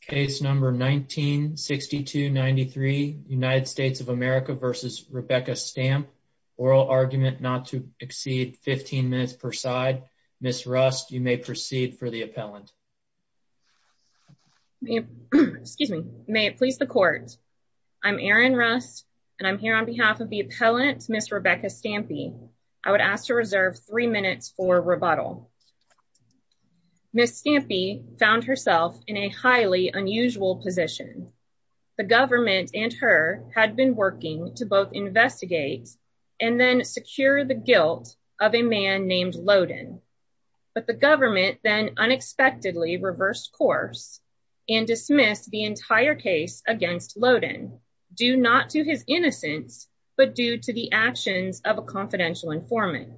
Case number 1962-93 United States of America v. Rebecca Stampe. Oral argument not to exceed 15 minutes per side. Ms. Rust, you may proceed for the appellant. May it please the court. I'm Erin Rust, and I'm here on behalf of the appellant, Ms. Rebecca Stampe. I would ask to reserve three minutes for rebuttal. Ms. Stampe found herself in a highly unusual position. The government and her had been working to both investigate and then secure the guilt of a man named Lowden. But the government then unexpectedly reversed course and dismissed the entire case against Lowden, due not to his innocence, but due to the actions of a confidential informant.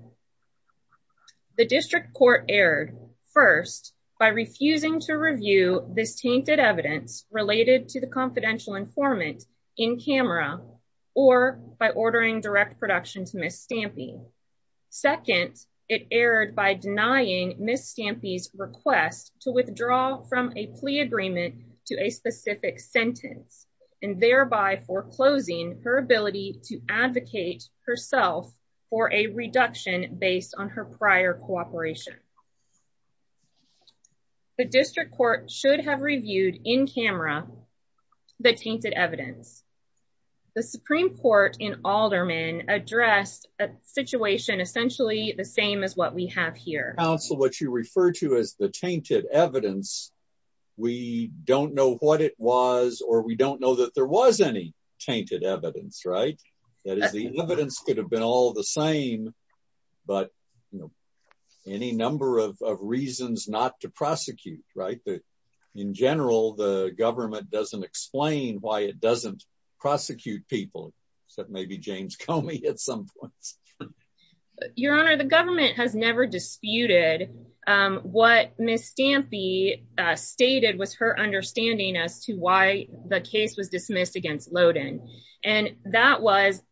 The district court erred, first, by refusing to review this tainted evidence related to the confidential informant in camera, or by ordering direct production to Ms. Stampe. Second, it erred by denying Ms. Stampe's request to withdraw from a plea agreement to a specific sentence, and thereby foreclosing her ability to advocate herself for a reduction based on her prior cooperation. The district court should have reviewed in camera the tainted evidence. The Supreme Court in Alderman addressed a situation essentially the same as what we have here. Mr. Counsel, what you refer to as the tainted evidence, we don't know what it was, or we don't know that there was any tainted evidence, right? That is, the evidence could have been all the same, but, you know, any number of reasons not to prosecute, right? In general, the government doesn't explain why it doesn't prosecute people, except maybe James Comey at some point. Your Honor, the government has never disputed what Ms. Stampe stated was her understanding as to why the case was dismissed against Loden, and that was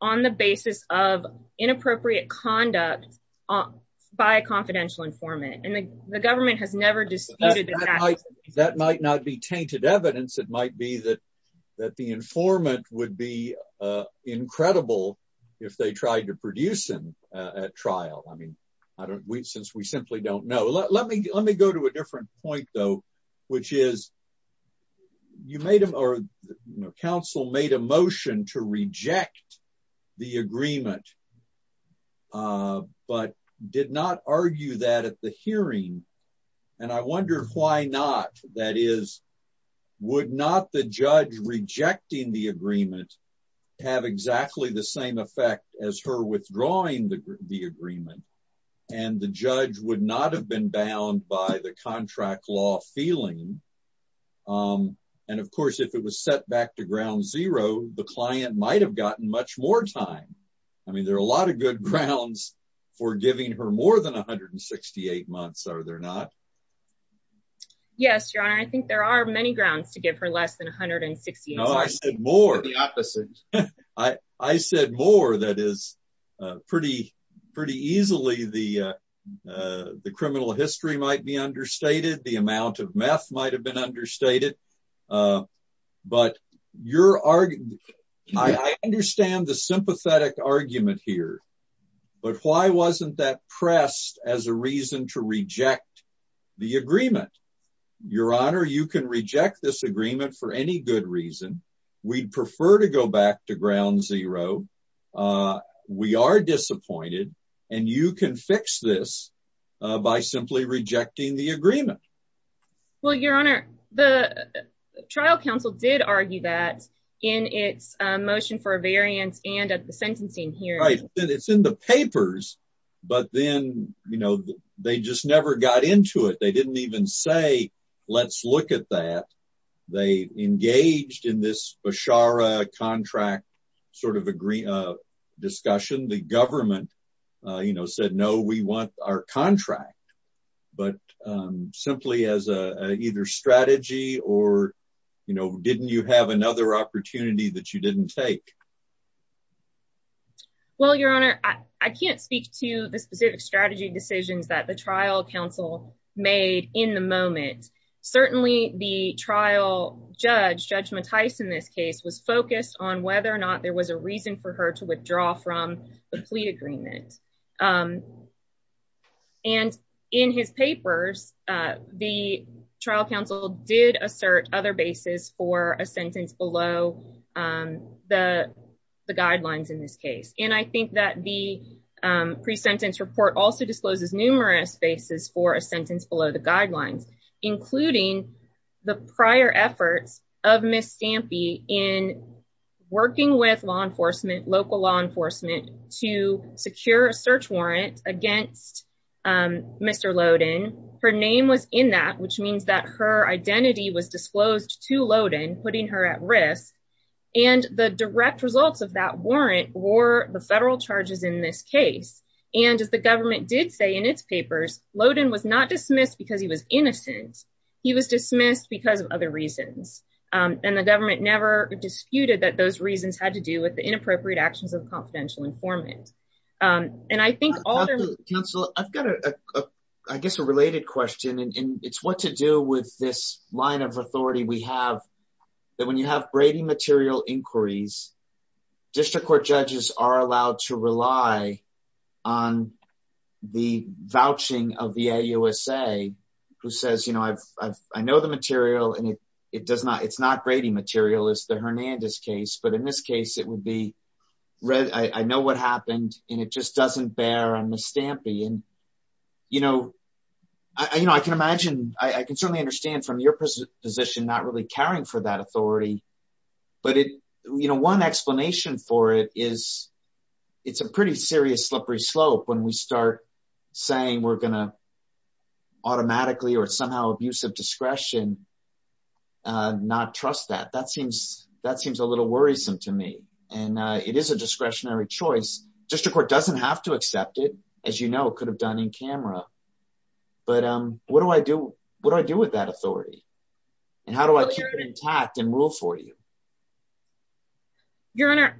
on the basis of inappropriate conduct by a confidential informant, and the government has never disputed that. That might not be tainted evidence. It might be that the informant would be incredible if they tried to produce him at trial. I mean, since we simply don't know. Let me go to a different point, though, which is, you made a motion, or counsel made a motion to reject the agreement, but did not argue that at the hearing, and I wonder why not. That is, would not the judge rejecting the agreement have exactly the same effect as her withdrawing the agreement, and the judge would not have been bound by the contract law feeling? And of course, if it was set back to ground zero, the client might have gotten much more time. I mean, there are a lot of good grounds for giving her more than 168 months, are there not? Yes, Your Honor, I think there are many grounds to give her less than 168 months. No, I said more. I said more that is pretty, pretty easily the criminal history might be understated, the amount of meth might have been understated. But I understand the sympathetic argument here, but why wasn't that pressed as a reason to reject the agreement? Your Honor, you can reject this agreement for any good reason. We'd prefer to go back to ground zero. We are disappointed, and you can fix this by simply rejecting the agreement. Well, Your Honor, the trial counsel did argue that in its motion for a variance and at the sentencing hearing. Right. It's in the papers, but then, you know, they just never got into it. They didn't even say, let's look at that. They engaged in this Beshara contract sort of discussion. The government, you know, said no, we want our contract, but simply as a either strategy or, you know, didn't you have another opportunity that you didn't take? Well, Your Honor, I can't speak to the specific strategy decisions that the trial counsel made in the moment. Certainly, the trial judge, Judge Mattice, in this case was focused on whether or not there was a reason for her to withdraw from the plea agreement. And in his papers, the trial counsel did assert other bases for a sentence below the guidelines in this case. And I think that the pre-sentence report also discloses numerous bases for a sentence below the guidelines, including the prior efforts of Ms. Stampy in working with law enforcement, local law enforcement, to secure a plea agreement. Ms. Stampy had her search warrant against Mr. Lowden. Her name was in that, which means that her identity was disclosed to Lowden, putting her at risk. And the direct results of that warrant were the federal charges in this case. And as the government did say in its papers, Lowden was not dismissed because he was innocent. He was dismissed because of other reasons. And the government never disputed that those reasons had to do with the inappropriate actions of confidential informant. And I think all the... And it just doesn't bear on Ms. Stampy. And, you know, I can imagine, I can certainly understand from your position, not really caring for that authority. But, you know, one explanation for it is it's a pretty serious slippery slope when we start saying we're going to automatically or somehow abuse of discretion, not trust that. That seems a little worrisome to me. And it is a discretionary choice. District Court doesn't have to accept it. As you know, it could have done in camera. But what do I do with that authority? And how do I keep it intact and rule for you? Your Honor,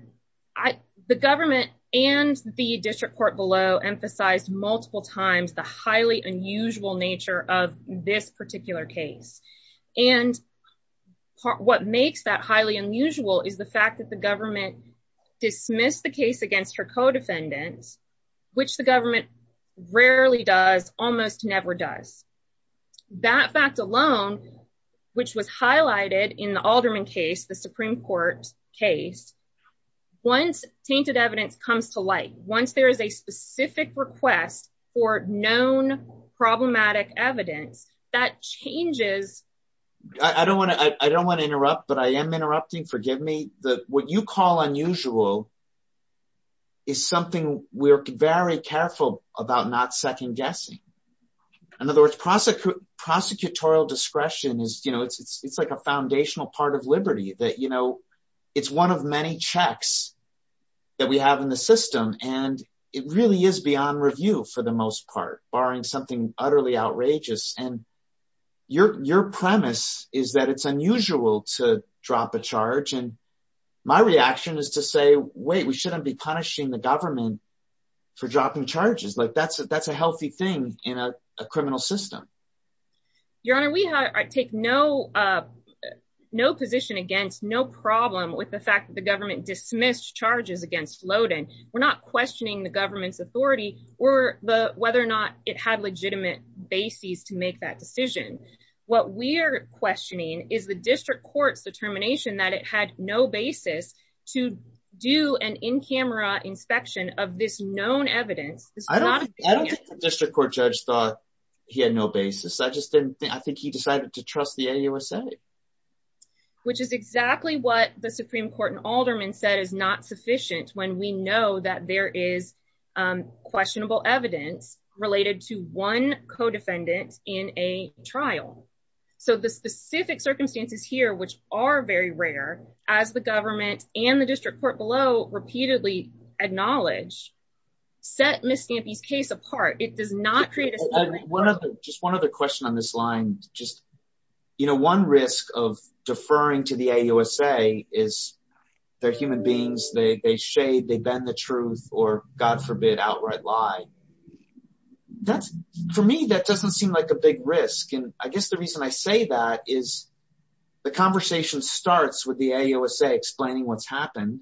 the government and the district court below emphasized multiple times the highly unusual nature of this particular case. And what makes that highly unusual is the fact that the government dismissed the case against her co-defendants, which the government rarely does, almost never does. That fact alone, which was highlighted in the Alderman case, the Supreme Court case, once tainted evidence comes to light, once there is a specific request for known problematic evidence, that changes... Prosecutorial discretion is, you know, it's like a foundational part of liberty that, you know, it's one of many checks that we have in the system. And it really is beyond review for the most part, barring something utterly outrageous. And your premise is that it's unusual to drop a charge. And my reaction is to say, wait, we shouldn't be punishing the government for dropping charges. Like that's a healthy thing in a criminal system. Your Honor, we take no position against, no problem with the fact that the government dismissed charges against Lowden. We're not questioning the government's authority or whether or not it had legitimate basis to make that decision. What we're questioning is the district court's determination that it had no basis to do an in-camera inspection of this known evidence. I don't think the district court judge thought he had no basis. I just didn't think, I think he decided to trust the AUSA. Which is exactly what the Supreme Court and Alderman said is not sufficient when we know that there is questionable evidence related to one co-defendant in a trial. So the specific circumstances here, which are very rare, as the government and the district court below repeatedly acknowledge, set Ms. Stampy's case apart. It does not create a... Just one other question on this line. Just, you know, one risk of deferring to the AUSA is they're human beings, they shade, they bend the truth or God forbid outright lie. That's, for me, that doesn't seem like a big risk. And I guess the reason I say that is the conversation starts with the AUSA explaining what's happened.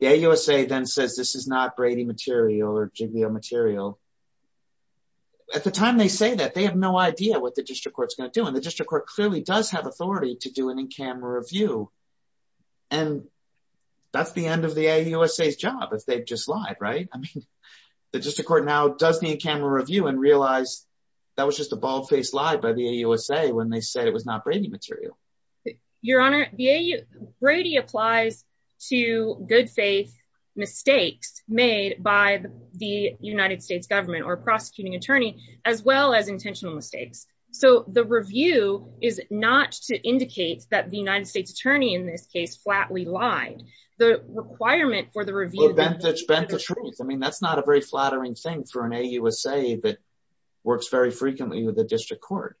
The AUSA then says this is not Brady material or Jigmeo material. At the time they say that, they have no idea what the district court's going to do. And the district court clearly does have authority to do an in-camera review. And that's the end of the AUSA's job if they've just lied, right? I mean, the district court now does the in-camera review and realize that was just a bald-faced lie by the AUSA when they said it was not Brady material. Your Honor, Brady applies to good faith mistakes made by the United States government or prosecuting attorney as well as intentional mistakes. So the review is not to indicate that the United States attorney in this case flatly lied. The requirement for the review... I mean, that's not a very flattering thing for an AUSA that works very frequently with the district court.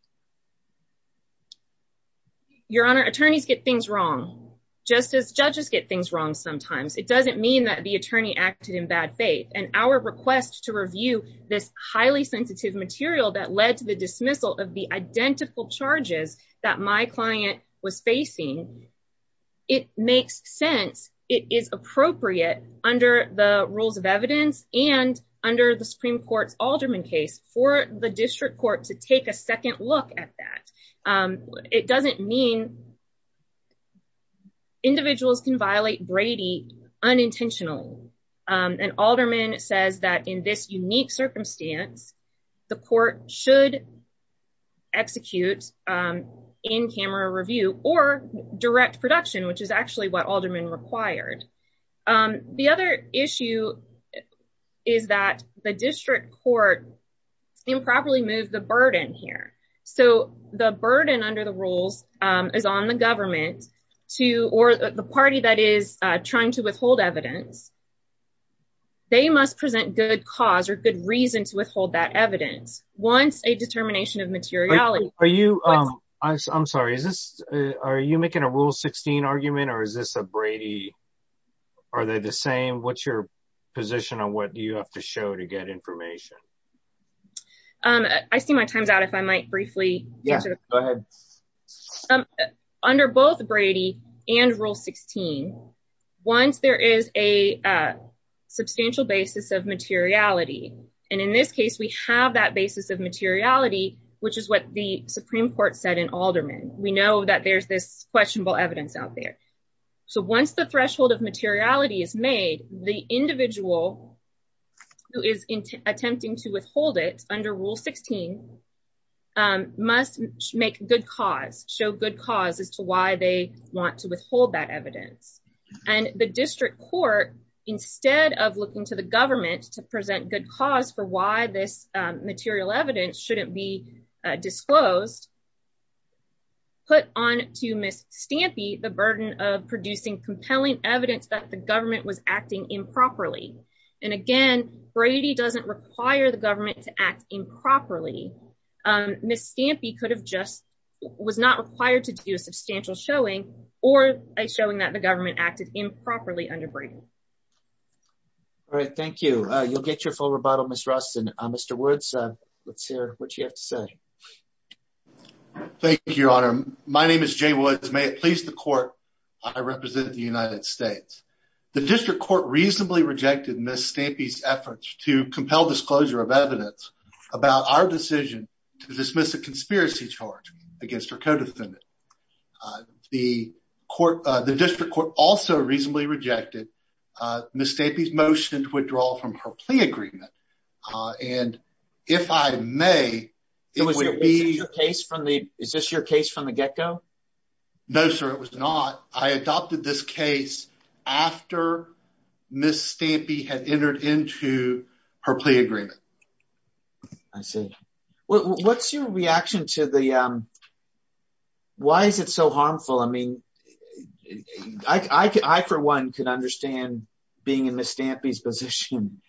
Your Honor, attorneys get things wrong just as judges get things wrong sometimes. It doesn't mean that the attorney acted in bad faith. And our request to review this highly sensitive material that led to the dismissal of the identical charges that my client was facing, it makes sense. It is appropriate under the rules of evidence and under the Supreme Court's Alderman case for the district court to take a second look at that. It doesn't mean individuals can violate Brady unintentionally. An alderman says that in this unique circumstance, the court should execute in-camera review or direct production, which is actually what aldermen required. The other issue is that the district court improperly moved the burden here. So the burden under the rules is on the government or the party that is trying to withhold evidence. They must present good cause or good reason to withhold that evidence. Once a determination of materiality... I'm sorry, are you making a Rule 16 argument or is this a Brady... are they the same? What's your position on what you have to show to get information? I see my time's out if I might briefly... Yeah, go ahead. Under both Brady and Rule 16, once there is a substantial basis of materiality, and in this case, we have that basis of materiality, which is what the Supreme Court said in alderman. We know that there's this questionable evidence out there. So once the threshold of materiality is made, the individual who is attempting to withhold it under Rule 16 must make good cause, show good cause as to why they want to withhold that evidence. And the district court, instead of looking to the government to present good cause for why this material evidence shouldn't be disclosed, put on to Ms. Stampy the burden of producing compelling evidence that the government was acting improperly. And again, Brady doesn't require the government to act improperly. Ms. Stampy could have just... was not required to do a substantial showing or a showing that the government acted improperly under Brady. All right, thank you. You'll get your full rebuttal, Ms. Rustin. Mr. Woods, let's hear what you have to say. Thank you, Your Honor. My name is Jay Woods. May it please the court, I represent the United States. The district court reasonably rejected Ms. Stampy's efforts to compel disclosure of evidence about our decision to dismiss a conspiracy charge against her co-defendant. The court, the district court also reasonably rejected Ms. Stampy's motion to withdraw from her plea agreement. And if I may... Is this your case from the get-go? No, sir, it was not. I adopted this case after Ms. Stampy had entered into her plea agreement. I see. What's your reaction to the... Why is it so harmful? I mean, I for one could understand being in Ms. Stampy's position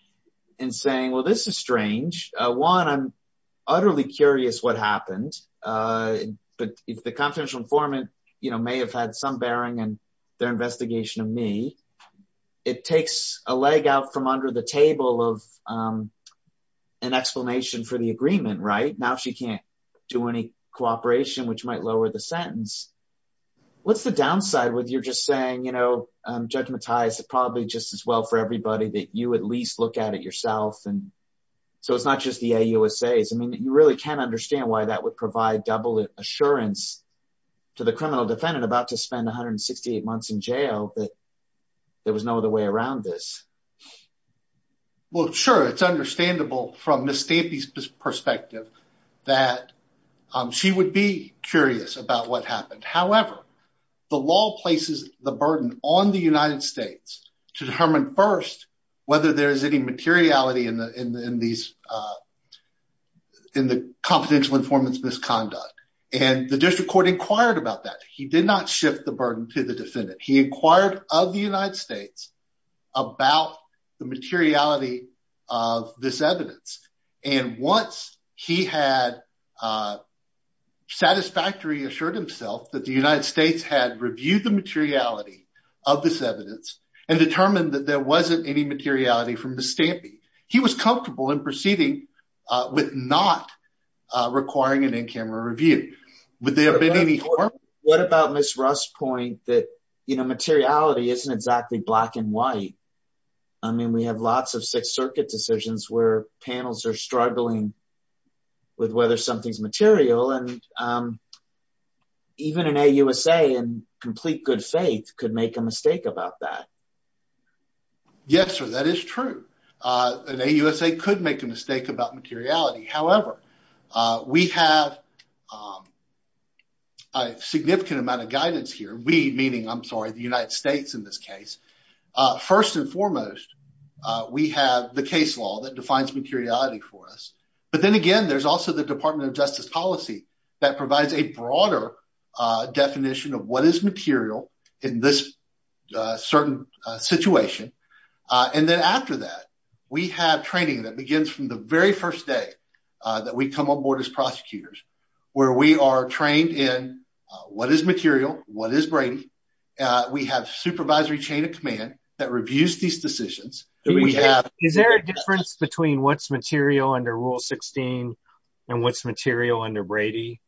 and saying, well, this is strange. One, I'm utterly curious what happened. But if the confidential informant may have had some bearing in their investigation of me, it takes a leg out from under the table of an explanation for the agreement, right? Now she can't do any cooperation, which might lower the sentence. What's the downside with you're just saying, you know, I'm judgmentized probably just as well for everybody that you at least look at it yourself. And so it's not just the AUSAs. I mean, you really can't understand why that would provide double assurance to the criminal defendant about to spend 168 months in jail that there was no other way around this. Well, sure, it's understandable from Ms. Stampy's perspective that she would be curious about what happened. However, the law places the burden on the United States to determine first whether there is any materiality in the confidential informant's misconduct. And the district court inquired about that. He did not shift the burden to the defendant. He inquired of the United States about the materiality of this evidence. And once he had satisfactorily assured himself that the United States had reviewed the materiality of this evidence and determined that there wasn't any materiality from Ms. Stampy, he was comfortable in proceeding with not requiring an in-camera review. Would there have been any harm? What about Ms. Rust's point that, you know, materiality isn't exactly black and white? I mean, we have lots of Sixth Circuit decisions where panels are struggling with whether something's material and even an AUSA in complete good faith could make a mistake about that. Yes, sir, that is true. An AUSA could make a mistake about materiality. However, we have a significant amount of guidance here. We meaning, I'm sorry, the United States in this case. First and foremost, we have the case law that defines materiality for us. But then again, there's also the Department of Justice policy that provides a broader definition of what is material in this certain situation. And then after that, we have training that begins from the very first day that we come on board as prosecutors, where we are trained in what is material, what is Brady. We have supervisory chain of command that reviews these decisions. Is there a difference between what's material under Rule 16 and what's material under Brady?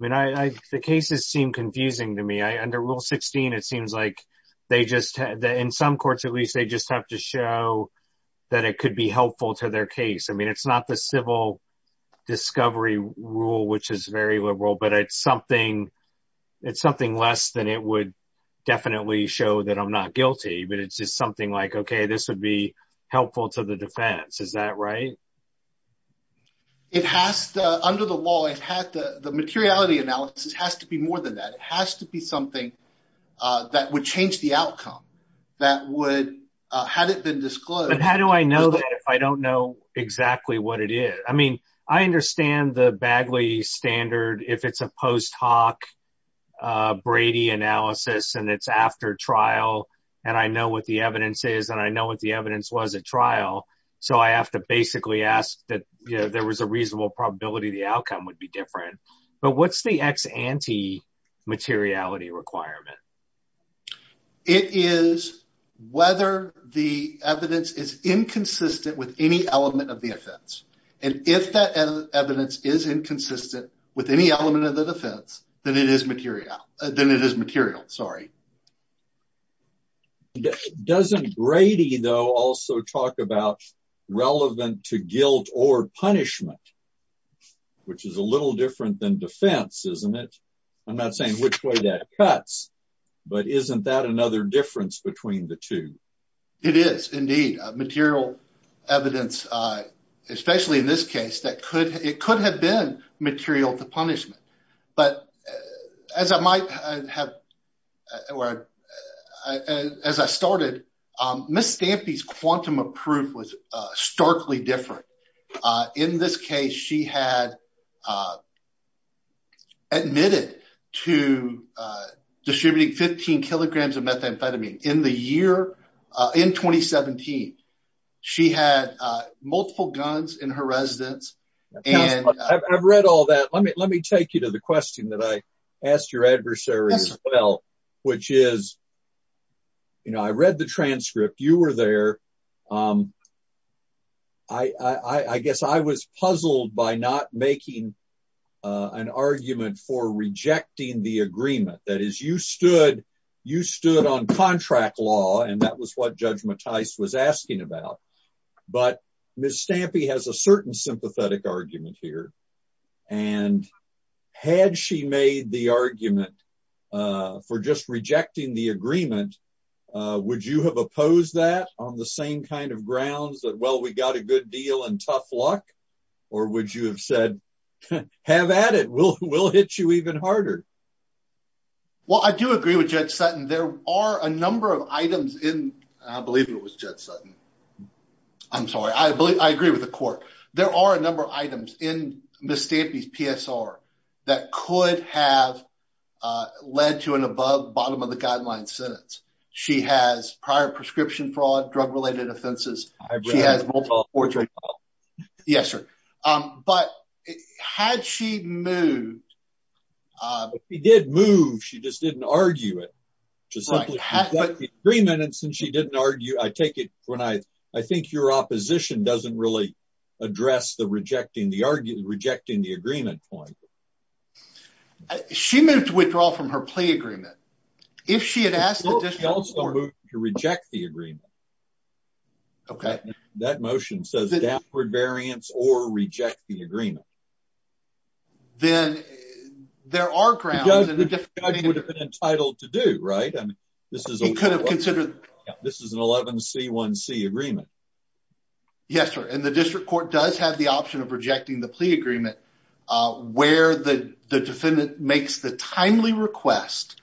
I mean, the cases seem confusing to me. Under Rule 16, it seems like they just, in some courts at least, they just have to show that it could be helpful to their case. I mean, it's not the civil discovery rule, which is very liberal, but it's something less than it would definitely show that I'm not guilty. But it's just something like, OK, this would be helpful to the defense. Is that right? It has to, under the law, it has to, the materiality analysis has to be more than that. It has to be something that would change the outcome that would, had it been disclosed. But how do I know that if I don't know exactly what it is? I mean, I understand the Bagley standard, if it's a post hoc Brady analysis and it's after trial, and I know what the evidence is and I know what the evidence was at trial. So I have to basically ask that there was a reasonable probability the outcome would be different. But what's the ex ante materiality requirement? It is whether the evidence is inconsistent with any element of the offense. And if that evidence is inconsistent with any element of the defense, then it is material. Then it is material. Sorry. Doesn't Brady, though, also talk about relevant to guilt or punishment, which is a little different than defense, isn't it? I'm not saying which way that cuts, but isn't that another difference between the two? It is indeed material evidence, especially in this case, that could, it could have been material to punishment. But as I might have, as I started, Miss Stampy's quantum of proof was starkly different. In this case, she had admitted to distributing 15 kilograms of methamphetamine in the year in 2017. She had multiple guns in her residence. And I've read all that. Let me let me take you to the question that I asked your adversary as well, which is. You know, I read the transcript, you were there. I guess I was puzzled by not making an argument for rejecting the agreement. That is, you stood, you stood on contract law. And that was what Judge Mattice was asking about. But Miss Stampy has a certain sympathetic argument here. And had she made the argument for just rejecting the agreement, would you have opposed that on the same kind of grounds that, well, we got a good deal and tough luck? Or would you have said, have at it, we'll, we'll hit you even harder? Well, I do agree with Judge Sutton. There are a number of items in, I believe it was Judge Sutton. I'm sorry, I believe I agree with the court. There are a number of items in Miss Stampy's PSR that could have led to an above bottom of the guideline sentence. She has prior prescription fraud, drug related offenses. She has multiple. Yes, sir. But had she moved? She did move. She just didn't argue it. Three minutes and she didn't argue. I take it when I, I think your opposition doesn't really address the rejecting the argument, rejecting the agreement point. She moved to withdraw from her plea agreement. If she had asked to reject the agreement. Okay, that motion says that for variants or reject the agreement. Then there are grounds and the judge would have been entitled to do right. And this is a could have considered. This is an 11 C1 C agreement. Yes, sir. And the district court does have the option of rejecting the plea agreement where the defendant makes the timely request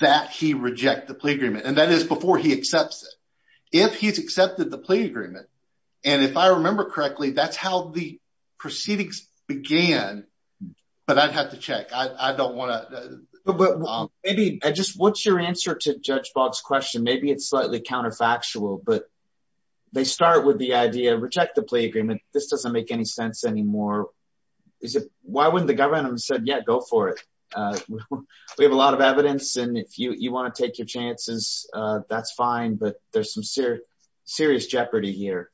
that he reject the plea agreement. And that is before he accepts it. If he's accepted the plea agreement. And if I remember correctly, that's how the proceedings began. But I'd have to check. I don't want to maybe just what's your answer to judge box question. Maybe it's slightly counterfactual, but. They start with the idea of reject the plea agreement. This doesn't make any sense anymore. Is it why wouldn't the government said, yeah, go for it. We have a lot of evidence. And if you want to take your chances, that's fine. But there's some serious, serious jeopardy here.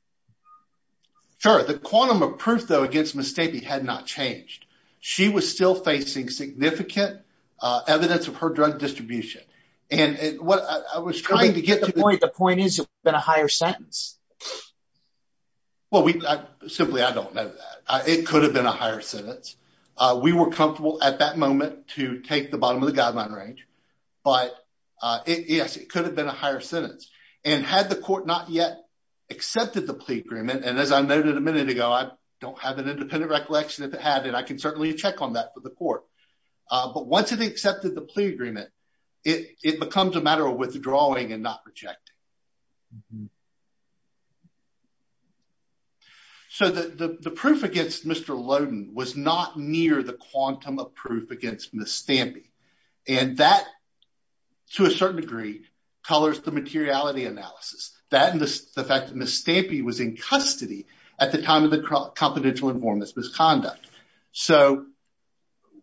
Sure. The quantum of proof, though, against mistake. He had not changed. She was still facing significant evidence of her drug distribution. And what I was trying to get to the point. The point is, it's been a higher sentence. Well, we simply, I don't know. It could have been a higher sentence. We were comfortable at that moment to take the bottom of the guideline range. But yes, it could have been a higher sentence. And had the court not yet. Accepted the plea agreement. And as I noted a minute ago, I don't have an independent recollection of the habit. I can certainly check on that for the court. But once it accepted the plea agreement. It becomes a matter of withdrawing and not rejecting. So the, the, the proof against Mr. Loden was not near the quantum of proof against the stamp. And that. To a certain degree. Colors, the materiality analysis that. The fact that Miss Stampy was in custody. At the time of the confidential informants misconduct. So.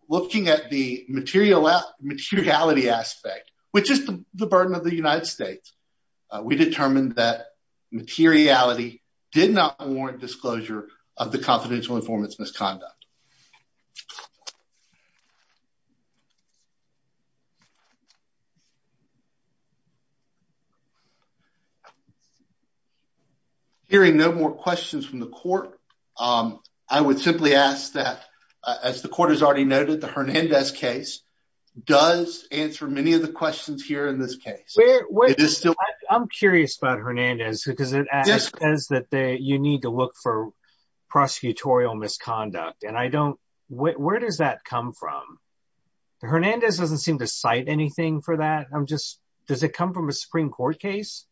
Looking at the material out materiality aspect. Which is the burden of the United States. We determined that materiality did not warrant disclosure of the confidential informants misconduct. Hearing no more questions from the court. I would simply ask that as the court has already noted, the Hernandez case. Does answer many of the questions here in this case. I'm curious about Hernandez. Because it says that you need to look for. Prosecutorial misconduct. And I don't. Where does that come from? Hernandez doesn't seem to cite anything for that. I'm just. Does it come from a Supreme court case?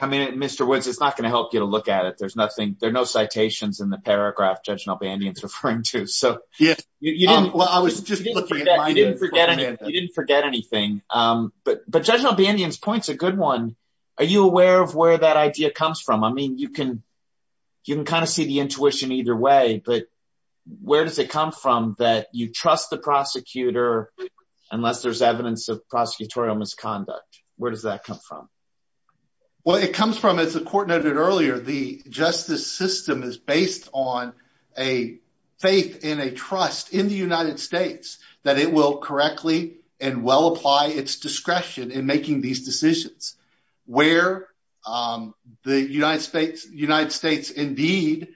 I mean, Mr. Woods, it's not going to help you to look at it. There's nothing. There are no citations in the paragraph. Judging Albanians referring to. So. Yeah. Well, I was just. Forget it. You didn't forget anything. But, but judge Albanians points a good one. Are you aware of where that idea comes from? I mean, you can. You can kind of see the intuition either way, but. Where does it come from that you trust the prosecutor? Unless there's evidence of prosecutorial misconduct. Where does that come from? Well, it comes from, as the court noted earlier, the justice system is. Based on a faith in a trust in the United States. That it will correctly and well apply its discretion in making these decisions. Where. The United States, United States indeed.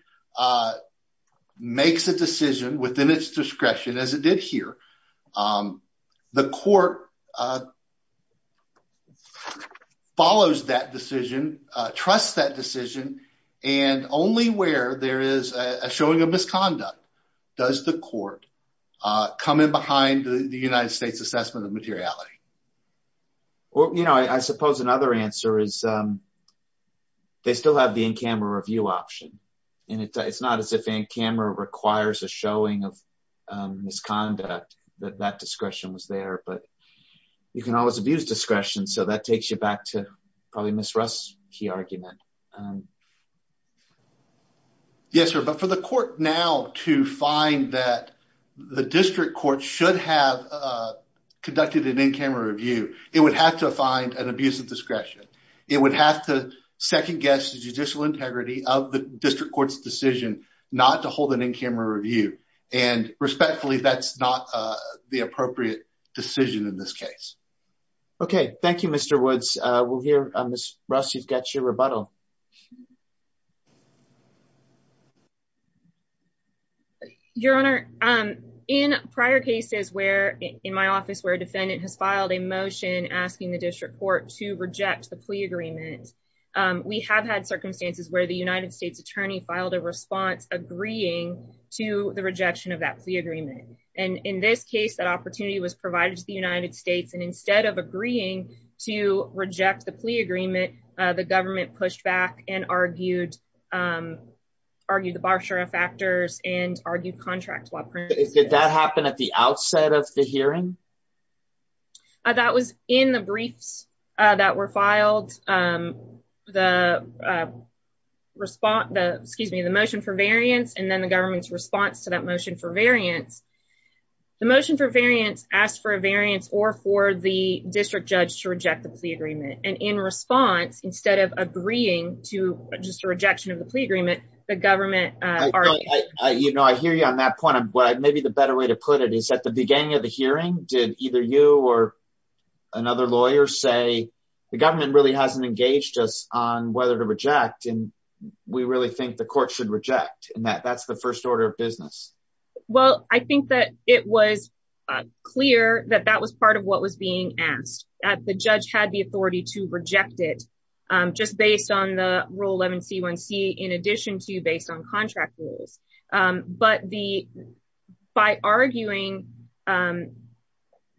Makes a decision within its discretion as it did here. The court. Follows that decision. Trust that decision. And only where there is a showing of misconduct. Does the court. Coming behind the United States assessment of materiality. Well, you know, I suppose another answer is. They still have the in-camera review option. And it's not as if in camera requires a showing of. Misconduct that that discretion was there, but. You can always abuse discretion. So that takes you back to. Probably miss Russ key argument. Yes, sir. But for the court now to find that. The district court should have. Conducted an in-camera review. It would have to find an abuse of discretion. It would have to second guess the judicial integrity of the district court's decision. Not to hold an in-camera review. And respectfully, that's not the appropriate decision in this case. Okay. Thank you, Mr. Woods. We'll hear. Russ, you've got your rebuttal. Your honor. In prior cases where in my office, where a defendant has filed a motion asking the district court to reject the plea agreement. We have had circumstances where the United States attorney filed a response, agreeing to the rejection of that plea agreement. And in this case, that opportunity was provided to the United States. And instead of agreeing to reject the plea agreement, the government pushed back and argued. And in this case, the government pushed back and argued the bar sheriff actors and argued contract. Did that happen at the outset of the hearing? That was in the briefs. That were filed. The response. Excuse me, the motion for variance and then the government's response to that motion for variance. The motion for variance asked for a variance or for the district judge to reject the plea agreement. And in response, instead of agreeing to just a rejection of the plea agreement, the government. You know, I hear you on that point. Maybe the better way to put it is at the beginning of the hearing did either you or. Another lawyer say the government really hasn't engaged us on whether to reject. And we really think the court should reject and that that's the first order of business. And then the second order of business, And then the third order of business. Well, I think that it was. Clear that that was part of what was being asked at the judge had the authority to reject it. Just based on the rule 11 C one C in addition to based on contract rules. But the. The reason that the district court rejected the plea agreement was because. By arguing.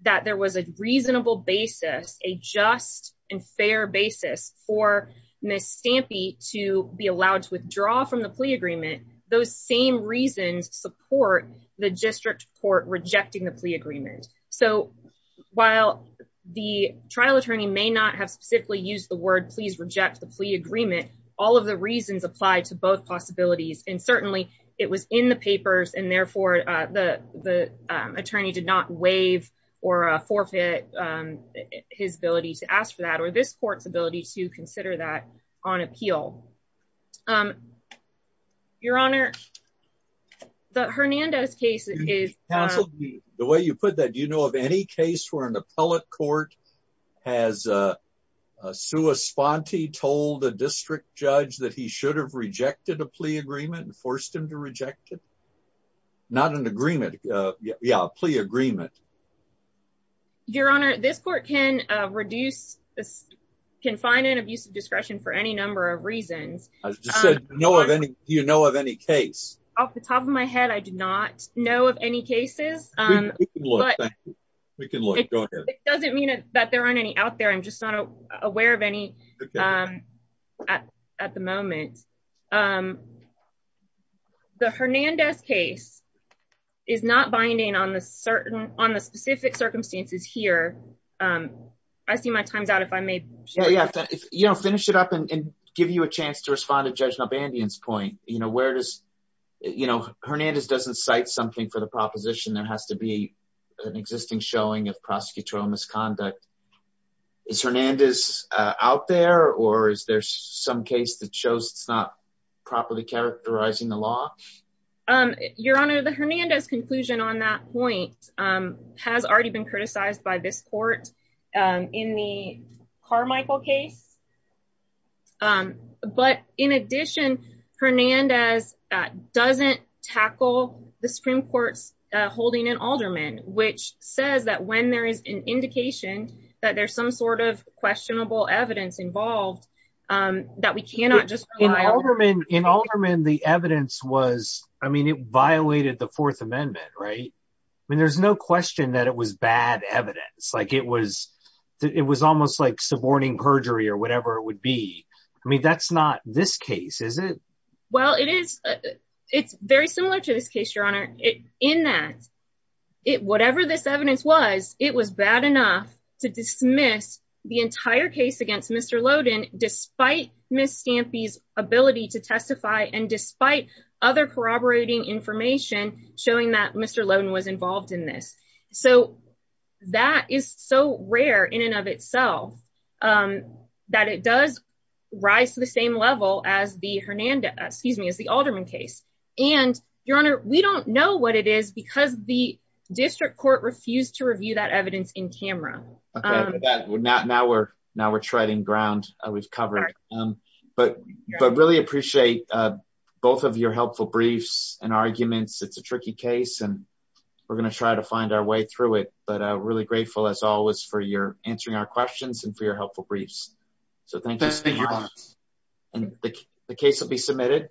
That there was a reasonable basis, a just. And fair basis for miss Stampy to be allowed to withdraw from the plea agreement. Those same reasons support the district court rejecting the plea agreement. So. While the trial attorney may not have specifically used the word, please reject the plea agreement. All of the reasons apply to both possibilities. And certainly it was in the papers and therefore the, the attorney did not wave or a forfeit. His ability to ask for that or this court's ability to consider that on appeal. Your honor. The Hernandez case is. The way you put that, you know, of any case where an appellate court. Has a. Sue a sponty told the district judge that he should have rejected a plea agreement and forced him to reject it. Not an agreement. Yeah. Plea agreement. Your honor, this court can reduce. Can find an abuse of discretion for any number of reasons. I've just said no of any, you know, of any case. Off the top of my head. I did not know of any cases. I'm not aware of any. I'm not aware of any cases. We can look. It doesn't mean that there aren't any out there. I'm just not. Aware of any. At the moment. The Hernandez case. Is not binding on the certain, on the specific circumstances here. I see my time's out. If I may. Yeah. Yeah. You know, finish it up and give you a chance to respond to judge. No bandians point. You know, where does. You know, Hernandez doesn't cite something for the proposition that has to be an existing showing of prosecutorial misconduct. Is Hernandez out there or is there some case that shows it's not. Properly characterizing the law. Your honor, the Hernandez conclusion on that point. Has already been criticized by this court. In the Carmichael case. But in addition, Hernandez. Doesn't tackle the Supreme court's holding an alderman, which says that when there is an indication that there's some sort of questionable evidence involved. That we cannot just. In Alderman. The evidence was, I mean, it violated the fourth amendment. Right. I mean, there's no question that it was bad evidence. Like it was. It was almost like suborning perjury or whatever it would be. I mean, that's not this case. Is it. Well, it is. It's very similar to this case, your honor. In that. It, whatever this evidence was, it was bad enough. That it does. Rise to the same level as the Hernandez, excuse me, as the Alderman case. And your honor, we don't know what it is because the. The district court refused to review that evidence in camera. Now we're now we're treading ground. We've covered. But, but really appreciate. Both of your helpful briefs and arguments. It's a tricky case. We're going to try to find our way through it, but I'm really grateful as always for your answering our questions and for your helpful briefs. Thank you. Thank you. And the case will be submitted.